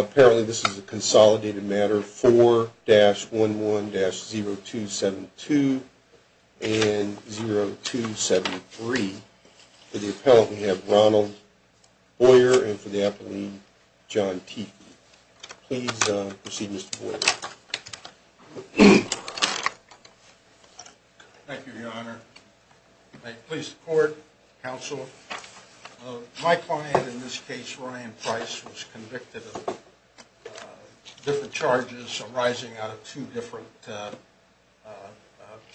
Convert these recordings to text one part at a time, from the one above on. Apparently this is a consolidated matter. 4-11-0272 and 0273. For the appellant we have Ronald Boyer and for the appellant John Tiefel. Please proceed Mr. Boyer. Thank you Your Honor. May it please the court, counsel. My client in this case, Ryan Price, was convicted of different charges arising out of two different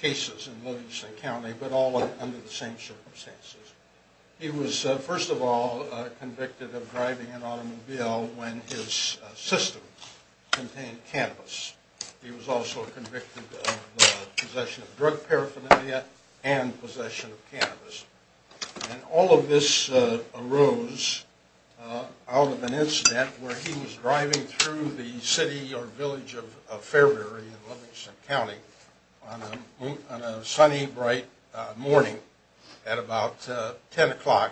cases in Livingston County but all under the same circumstances. He was first of all convicted of driving an automobile when his system contained cannabis. He was also convicted of possession of drug paraphernalia and possession of cannabis. And all of this arose out of an incident where he was driving through the city or village of Fairbury in Livingston County on a sunny bright morning at about 10 o'clock.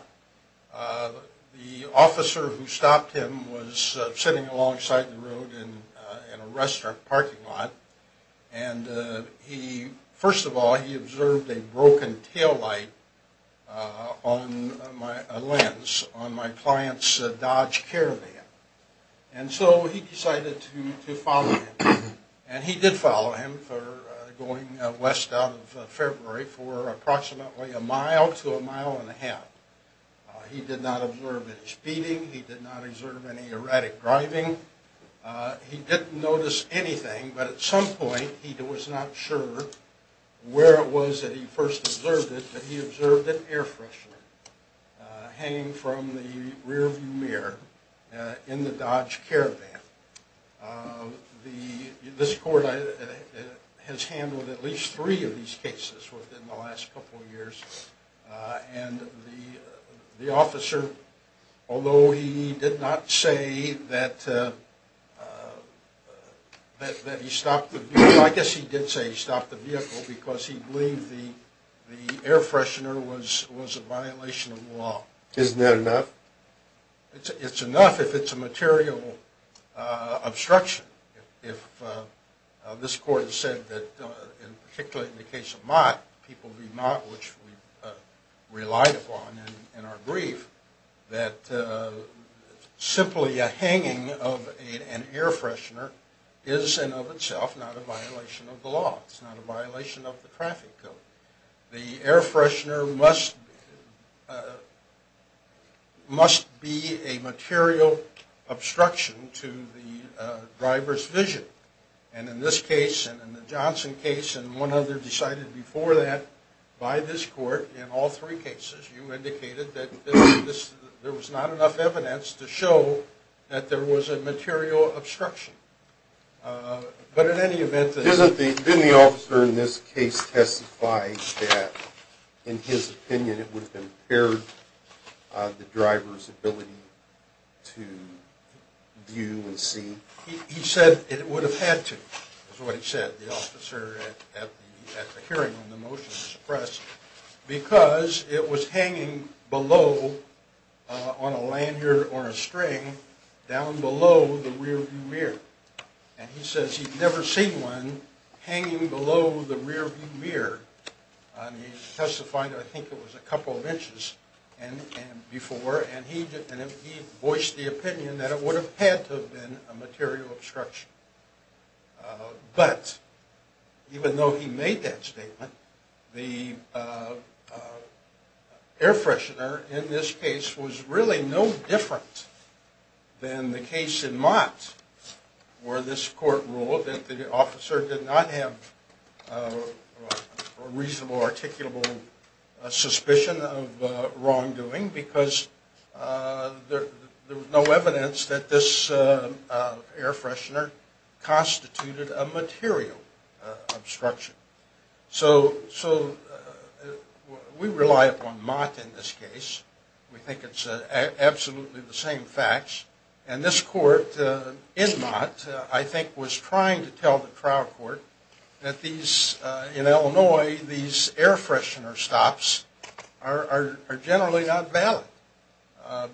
The officer who stopped him was sitting alongside the road in a restaurant parking lot and he, first of all, he observed a broken taillight on a lens on my client's Dodge Caravan. And so he decided to follow him. And he did follow him for going west out of Fairbury for approximately a mile to a mile and a half. He did not observe any speeding. He did not observe any erratic driving. He didn't notice anything but at some point he was not sure where it was that he first observed it but he observed it air freshener hanging from the rear view mirror in the Dodge Caravan. This court has handled at least three of these cases within the last couple of years. And the officer, although he did not say that he stopped the vehicle, I guess he did say he stopped the vehicle because he believed the air freshener was a violation of the law. Isn't that enough? It's enough if it's a material obstruction. If this court said that, particularly in the case of Mott, which we relied upon in our brief, that simply a hanging of an air freshener is in and of itself not a violation of the law. It's not a violation of the traffic code. The air freshener must be a material obstruction to the driver's vision. And in this case and in the Johnson case and one other decided before that by this court in all three cases you indicated that there was not enough evidence to show that there was a material obstruction. But in any event... Didn't the officer in this case testify that in his opinion it would have impaired the driver's ability to view and see? He said it would have had to, is what he said, the officer at the hearing on the motion to suppress, because it was hanging below on a lanyard or a string down below the rear view mirror. And he says he'd never seen one hanging below the rear view mirror. He testified I think it was a couple of inches before and he voiced the opinion that it would have had to have been a material obstruction. But even though he made that statement, the air freshener in this case was really no different than the case in Mott where this court ruled that the officer did not have a reasonable, articulable suspicion of wrongdoing. Because there was no evidence that this air freshener constituted a material obstruction. So we rely upon Mott in this case. We think it's absolutely the same facts. And this court in Mott I think was trying to tell the trial court that in Illinois these air freshener stops are generally not valid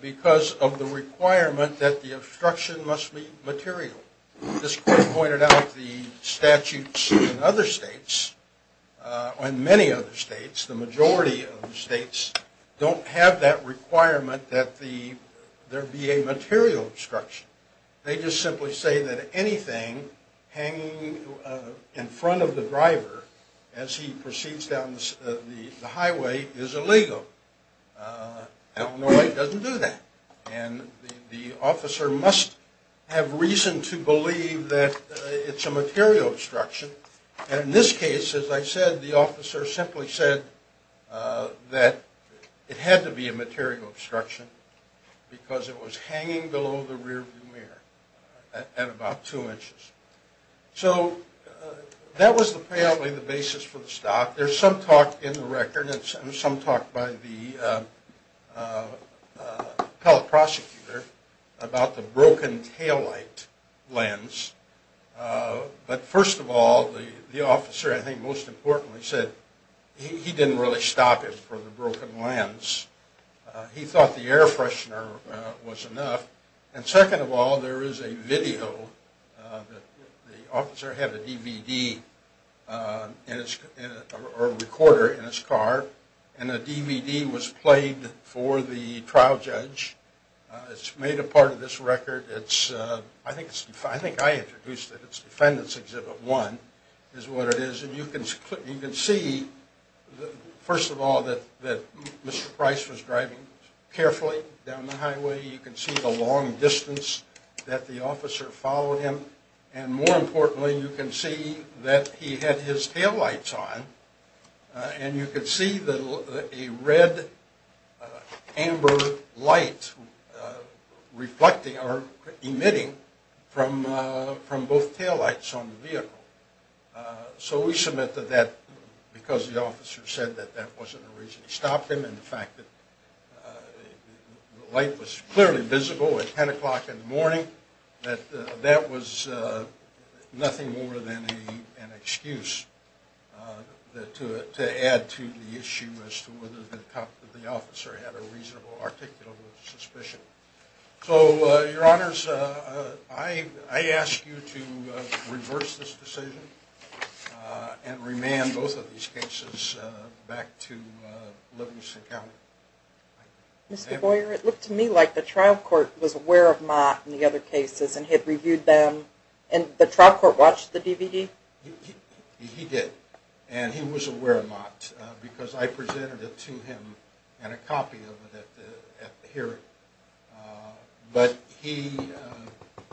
because of the requirement that the obstruction must be material. This court pointed out the statutes in other states, in many other states, the majority of the states don't have that requirement that there be a material obstruction. They just simply say that anything hanging in front of the driver as he proceeds down the highway is illegal. Illinois doesn't do that. And the officer must have reason to believe that it's a material obstruction. And in this case, as I said, the officer simply said that it had to be a material obstruction because it was hanging below the rear view mirror at about two inches. So that was apparently the basis for the stop. There's some talk in the record and some talk by the appellate prosecutor about the broken taillight lens. But first of all, the officer I think most importantly said he didn't really stop it for the broken lens. He thought the air freshener was enough. And second of all, there is a video. The officer had a DVD or recorder in his car and a DVD was played for the trial judge. It's made a part of this record. I think I introduced it. It's Defendant's Exhibit 1 is what it is. And you can see, first of all, that Mr. Price was driving carefully down the highway. You can see the long distance that the officer followed him. And more importantly, you can see that he had his taillights on. And you can see a red-amber light reflecting or emitting from both taillights on the vehicle. So we submit that because the officer said that that wasn't the reason he stopped him and the fact that the light was clearly visible at 10 o'clock in the morning, that that was nothing more than an excuse to add to the issue as to whether the officer had a reasonable articulable suspicion. So, Your Honors, I ask you to reverse this decision and remand both of these cases back to Livingston County. Mr. Boyer, it looked to me like the trial court was aware of Mott and the other cases and had reviewed them. And the trial court watched the DVD? He did. And he was aware of Mott because I presented it to him and a copy of it at the hearing. But he,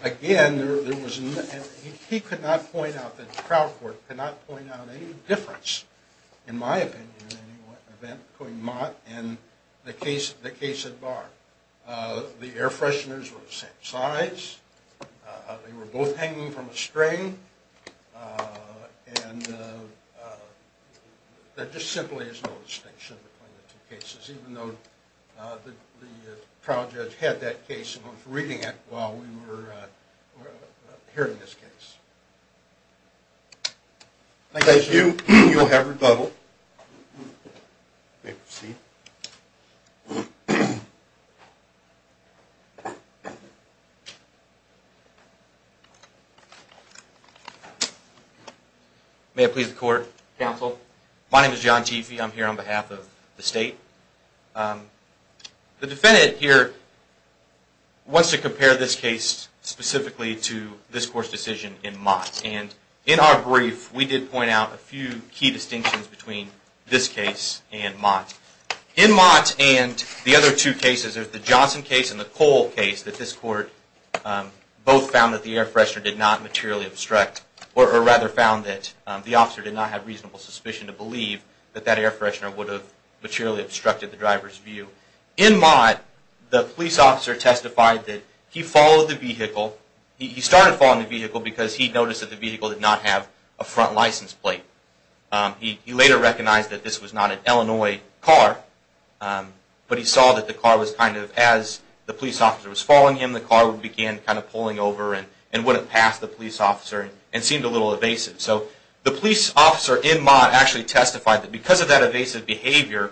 again, he could not point out that the trial court could not point out any difference, in my opinion, in any event between Mott and the case at Barr. The air fresheners were the same size. They were both hanging from a string. And there just simply is no distinction between the two cases, even though the trial judge had that case and was reading it while we were hearing this case. Thank you. You will have rebuttal. You may proceed. In Mott and the other two cases, there's the Johnson case and the Cole case that this court both found that the air freshener did not materially obstruct, or rather found that the officer did not have reasonable suspicion to believe that that air freshener would have materially obstructed the driver's view. In Mott, the police officer testified that he followed the vehicle. He started following the vehicle because he noticed that the vehicle did not have a front license plate. He later recognized that this was not an Illinois car, but he saw that the car was kind of, as the police officer was following him, the car began kind of pulling over and wouldn't pass the police officer and seemed a little evasive. So the police officer in Mott actually testified that because of that evasive behavior,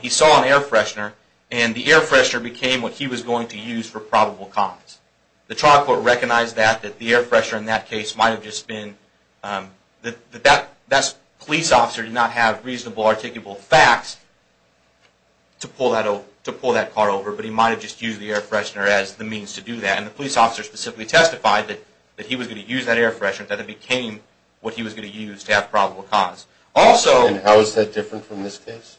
he saw an air freshener and the air freshener became what he was going to use for probable cause. The trial court recognized that, that the air freshener in that case might have just been, that that police officer did not have reasonable, articulable facts to pull that car over, but he might have just used the air freshener as the means to do that. And the police officer specifically testified that he was going to use that air freshener, that it became what he was going to use to have probable cause. And how is that different from this case?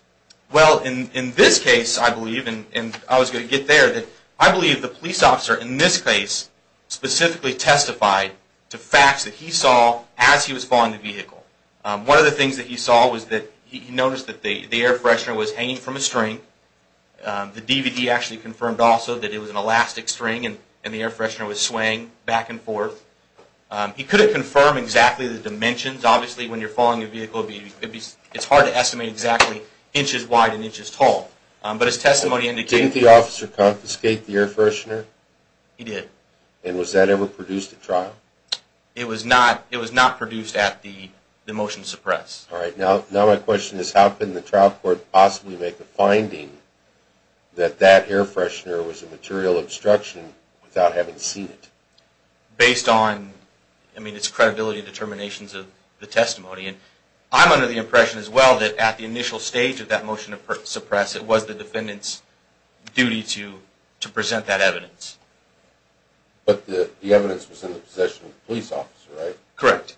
Well, in this case, I believe, and I was going to get there, that I believe the police officer in this case specifically testified to facts that he saw as he was following the vehicle. One of the things that he saw was that he noticed that the air freshener was hanging from a string. The DVD actually confirmed also that it was an elastic string and the air freshener was swaying back and forth. He couldn't confirm exactly the dimensions. Obviously, when you're following a vehicle, it's hard to estimate exactly inches wide and inches tall. But his testimony indicated... Didn't the officer confiscate the air freshener? He did. And was that ever produced at trial? It was not. It was not produced at the motion suppress. All right. Now my question is, how can the trial court possibly make a finding that that air freshener was a material obstruction without having seen it? Based on, I mean, it's credibility determinations of the testimony. And I'm under the impression as well that at the initial stage of that motion to suppress, it was the defendant's duty to present that evidence. But the evidence was in the possession of the police officer, right? Correct.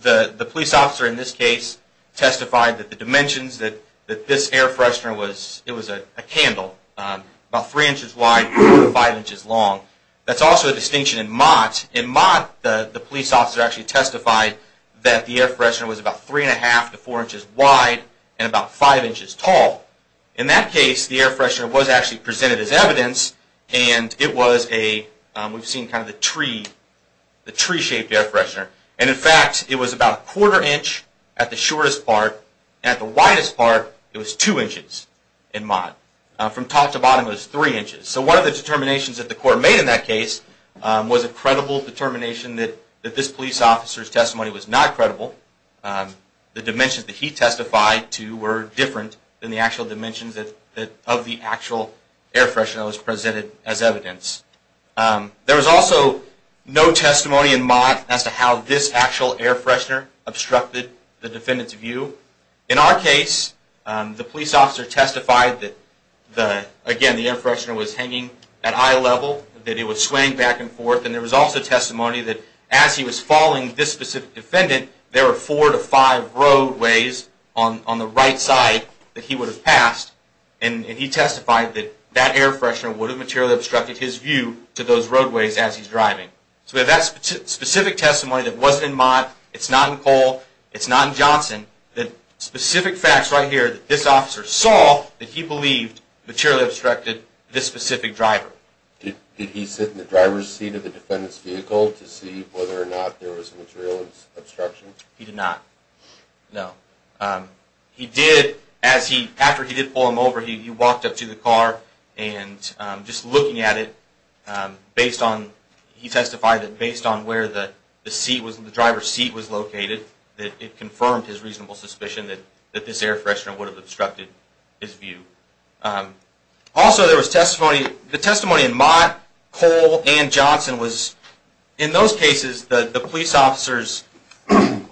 The police officer in this case testified that the dimensions that this air freshener was... It was a candle about three inches wide and five inches long. That's also a distinction in Mott. In Mott, the police officer actually testified that the air freshener was about three and a half to four inches wide and about five inches tall. In that case, the air freshener was actually presented as evidence. And it was a, we've seen kind of the tree, the tree-shaped air freshener. And in fact, it was about a quarter inch at the shortest part. And at the widest part, it was two inches in Mott. From top to bottom, it was three inches. So one of the determinations that the court made in that case was a credible determination that this police officer's testimony was not credible. The dimensions that he testified to were different than the actual dimensions of the actual air freshener that was presented as evidence. There was also no testimony in Mott as to how this actual air freshener obstructed the defendant's view. In our case, the police officer testified that, again, the air freshener was hanging at eye level. That it was swaying back and forth. And there was also testimony that as he was following this specific defendant, there were four to five roadways on the right side that he would have passed. And he testified that that air freshener would have materially obstructed his view to those roadways as he's driving. So we have that specific testimony that wasn't in Mott. It's not in Cole. It's not in Johnson. The specific facts right here that this officer saw that he believed materially obstructed this specific driver. Did he sit in the driver's seat of the defendant's vehicle to see whether or not there was a material obstruction? He did not. No. He did. After he did pull him over, he walked up to the car and just looking at it, he testified that based on where the driver's seat was located, that it confirmed his reasonable suspicion that this air freshener would have obstructed his view. Also, there was testimony in Mott, Cole, and Johnson. In those cases, the police officers, their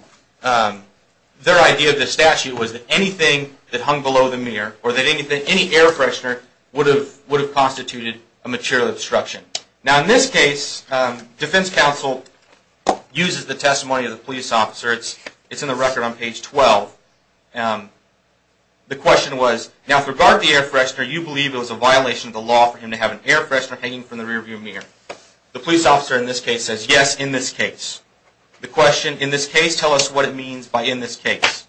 idea of the statute was that anything that hung below the mirror or that any air freshener would have constituted a material obstruction. Now, in this case, defense counsel uses the testimony of the police officer. It's in the record on page 12. The question was, now, with regard to the air freshener, you believe it was a violation of the law for him to have an air freshener hanging from the rearview mirror. The police officer in this case says, yes, in this case. The question, in this case, tell us what it means by in this case.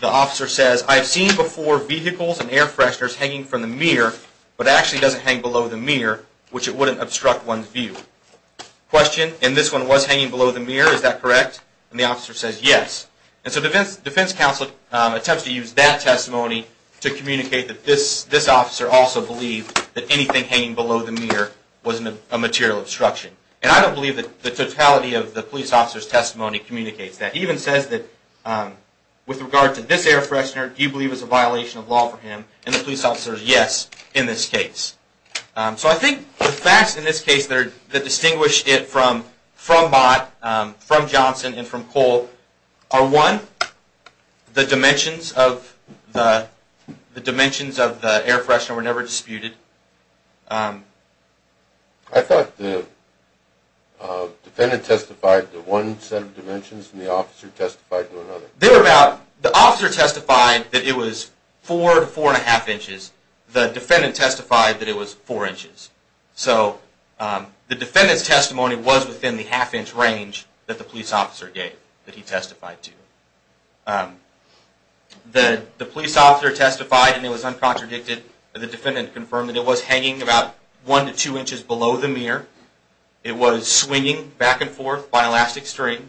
The officer says, I've seen before vehicles and air fresheners hanging from the mirror, but it actually doesn't hang below the mirror, which it wouldn't obstruct one's view. Question, and this one was hanging below the mirror, is that correct? And the officer says, yes. And so defense counsel attempts to use that testimony to communicate that this officer also believed that anything hanging below the mirror was a material obstruction. And I don't believe that the totality of the police officer's testimony communicates that. He even says that, with regard to this air freshener, do you believe it was a violation of law for him? And the police officer says, yes, in this case. So I think the facts in this case that distinguish it from Bott, from Johnson, and from Cole are, one, the dimensions of the air freshener were never disputed. I thought the defendant testified to one set of dimensions and the officer testified to another. The officer testified that it was four to four and a half inches. The defendant testified that it was four inches. So the defendant's testimony was within the half inch range that the police officer gave, that he testified to. The police officer testified and it was uncontradicted. The defendant confirmed that it was hanging about one to two inches below the mirror. It was swinging back and forth by elastic string.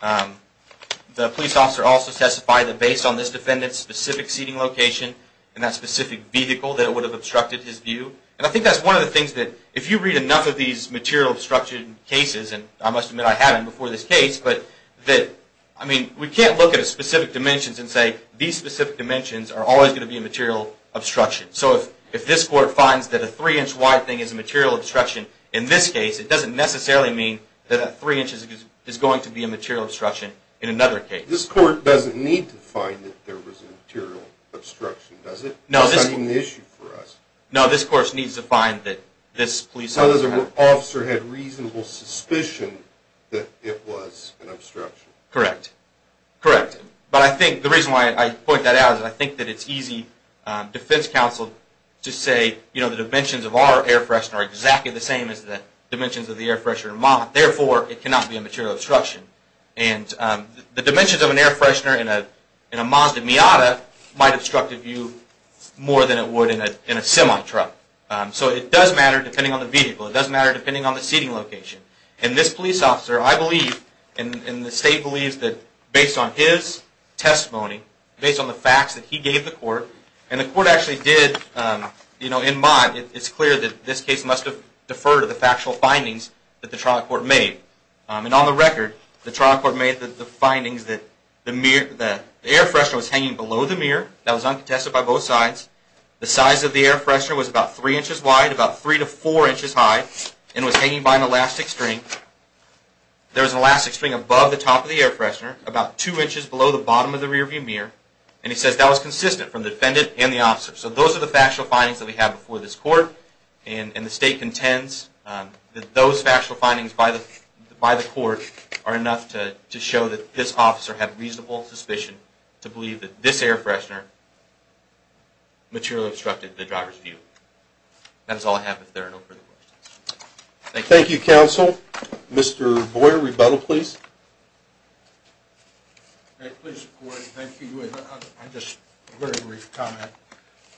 The police officer also testified that based on this defendant's specific seating location and that specific vehicle, that it would have obstructed his view. And I think that's one of the things that, if you read enough of these material obstruction cases, and I must admit I haven't before this case, but that, I mean, we can't look at specific dimensions and say these specific dimensions are always going to be a material obstruction. So if this court finds that a three inch wide thing is a material obstruction in this case, it doesn't necessarily mean that a three inches is going to be a material obstruction in another case. This court doesn't need to find that there was a material obstruction, does it? It's not even an issue for us. No, this court needs to find that this police officer had reasonable suspicion that it was an obstruction. Correct. Correct. But I think the reason why I point that out is I think that it's easy defense counsel to say, you know, the dimensions of our air freshener are exactly the same as the dimensions of the air freshener in Ma. Therefore, it cannot be a material obstruction. And the dimensions of an air freshener in a Mazda Miata might obstruct a view more than it would in a semi truck. So it does matter depending on the vehicle. It does matter depending on the seating location. And this police officer, I believe, and the state believes that based on his testimony, based on the facts that he gave the court, and the court actually did, you know, in Ma, it's clear that this case must have deferred to the factual findings that the trial court made. And on the record, the trial court made the findings that the air freshener was hanging below the mirror. That was uncontested by both sides. The size of the air freshener was about three inches wide, about three to four inches high, and was hanging by an elastic string. There was an elastic string above the top of the air freshener, about two inches below the bottom of the rearview mirror. And he says that was consistent from the defendant and the officer. So those are the factual findings that we have before this court. And the state contends that those factual findings by the court are enough to show that this officer had reasonable suspicion to believe that this air freshener materially obstructed the driver's view. That is all I have if there are no further questions. Thank you. Thank you, counsel. Mr. Boyer, rebuttal, please. Please, Corey, thank you. Just a very brief comment.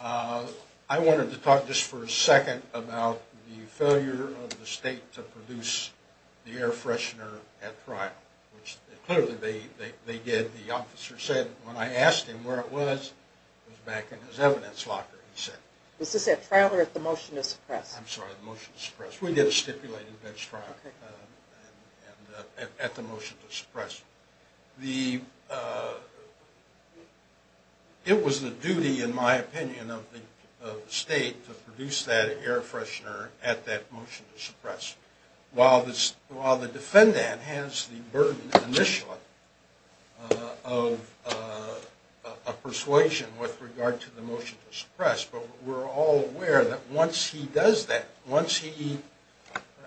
I wanted to talk just for a second about the failure of the state to produce the air freshener at trial, which clearly they did. The officer said when I asked him where it was, it was back in his evidence locker, he said. Was this at trial or at the motion to suppress? I'm sorry, the motion to suppress. We did a stipulated bench trial at the motion to suppress. It was the duty, in my opinion, of the state to produce that air freshener at that motion to suppress. While the defendant has the burden initially of persuasion with regard to the motion to suppress, but we're all aware that once he does that, once he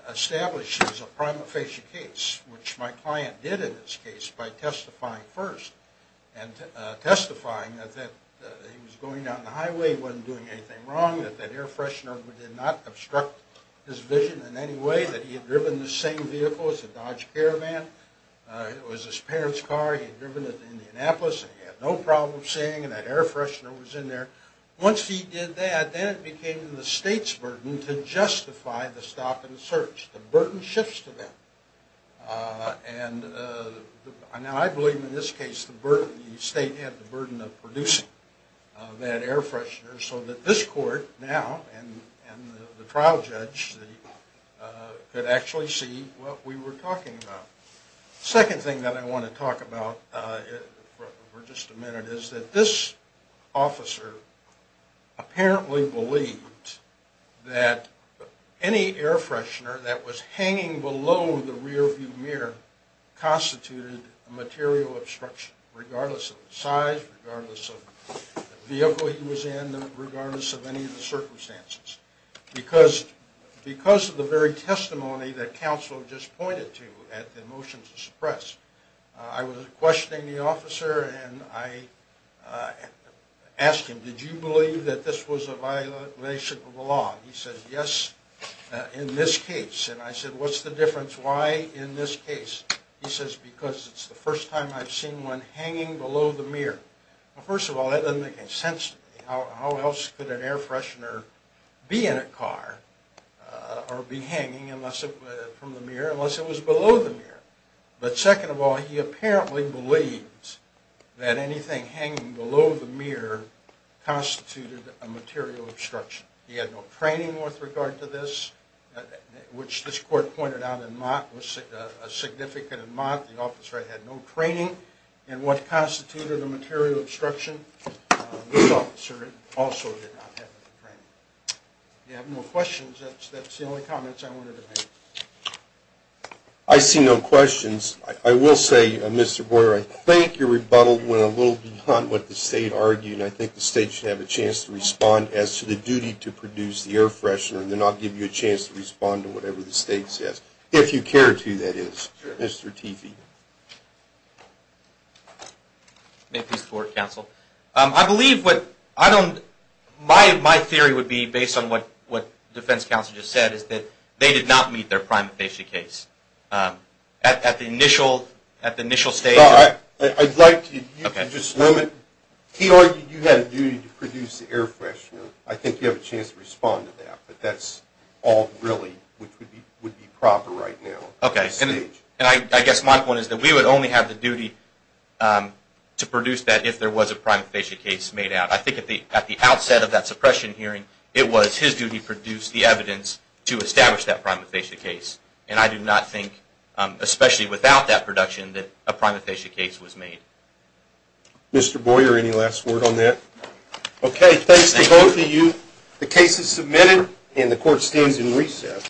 establishes a prima facie case, which my client did in this case by testifying first, and testifying that he was going down the highway, wasn't doing anything wrong, that that air freshener did not obstruct his vision in any way, that he had driven the same vehicle as the Dodge Caravan. It was his parents' car. He had driven it to Indianapolis, and he had no problem saying that air freshener was in there. Once he did that, then it became the state's burden to justify the stop and search. The burden shifts to them. And now I believe in this case the burden, the state had the burden of producing that air freshener so that this court now and the trial judge could actually see what we were talking about. The second thing that I want to talk about for just a minute is that this officer apparently believed that any air freshener that was hanging below the rearview mirror constituted material obstruction, regardless of the size, regardless of the vehicle he was in, regardless of any of the circumstances. Because of the very testimony that counsel just pointed to at the motion to suppress, I was questioning the officer and I asked him, did you believe that this was a violation of the law? He said, yes, in this case. And I said, what's the difference? Why in this case? He says, because it's the first time I've seen one hanging below the mirror. Well, first of all, that doesn't make any sense to me. How else could an air freshener be in a car or be hanging from the mirror unless it was below the mirror? But second of all, he apparently believed that anything hanging below the mirror constituted a material obstruction. He had no training with regard to this, which this court pointed out in Mott was a significant amount. The officer had no training in what constituted a material obstruction. This officer also did not have any training. If you have no questions, that's the only comments I wanted to make. I see no questions. I will say, Mr. Boyer, I think your rebuttal went a little beyond what the State argued. I think the State should have a chance to respond as to the duty to produce the air freshener and then I'll give you a chance to respond to whatever the State says, if you care to, that is. Mr. Teefee. May it please the Court, Counsel? I believe what my theory would be, based on what Defense Counsel just said, is that they did not meet their primary case at the initial stage. I'd like you to just limit. He argued you had a duty to produce the air freshener. I think you have a chance to respond to that, but that's all really what would be proper right now. Okay, and I guess my point is that we would only have the duty to produce that if there was a prima facie case made out. I think at the outset of that suppression hearing, it was his duty to produce the evidence to establish that prima facie case, and I do not think, especially without that production, that a prima facie case was made. Mr. Boyer, any last word on that? Okay, thanks to both of you. The case is submitted and the Court stands in recess.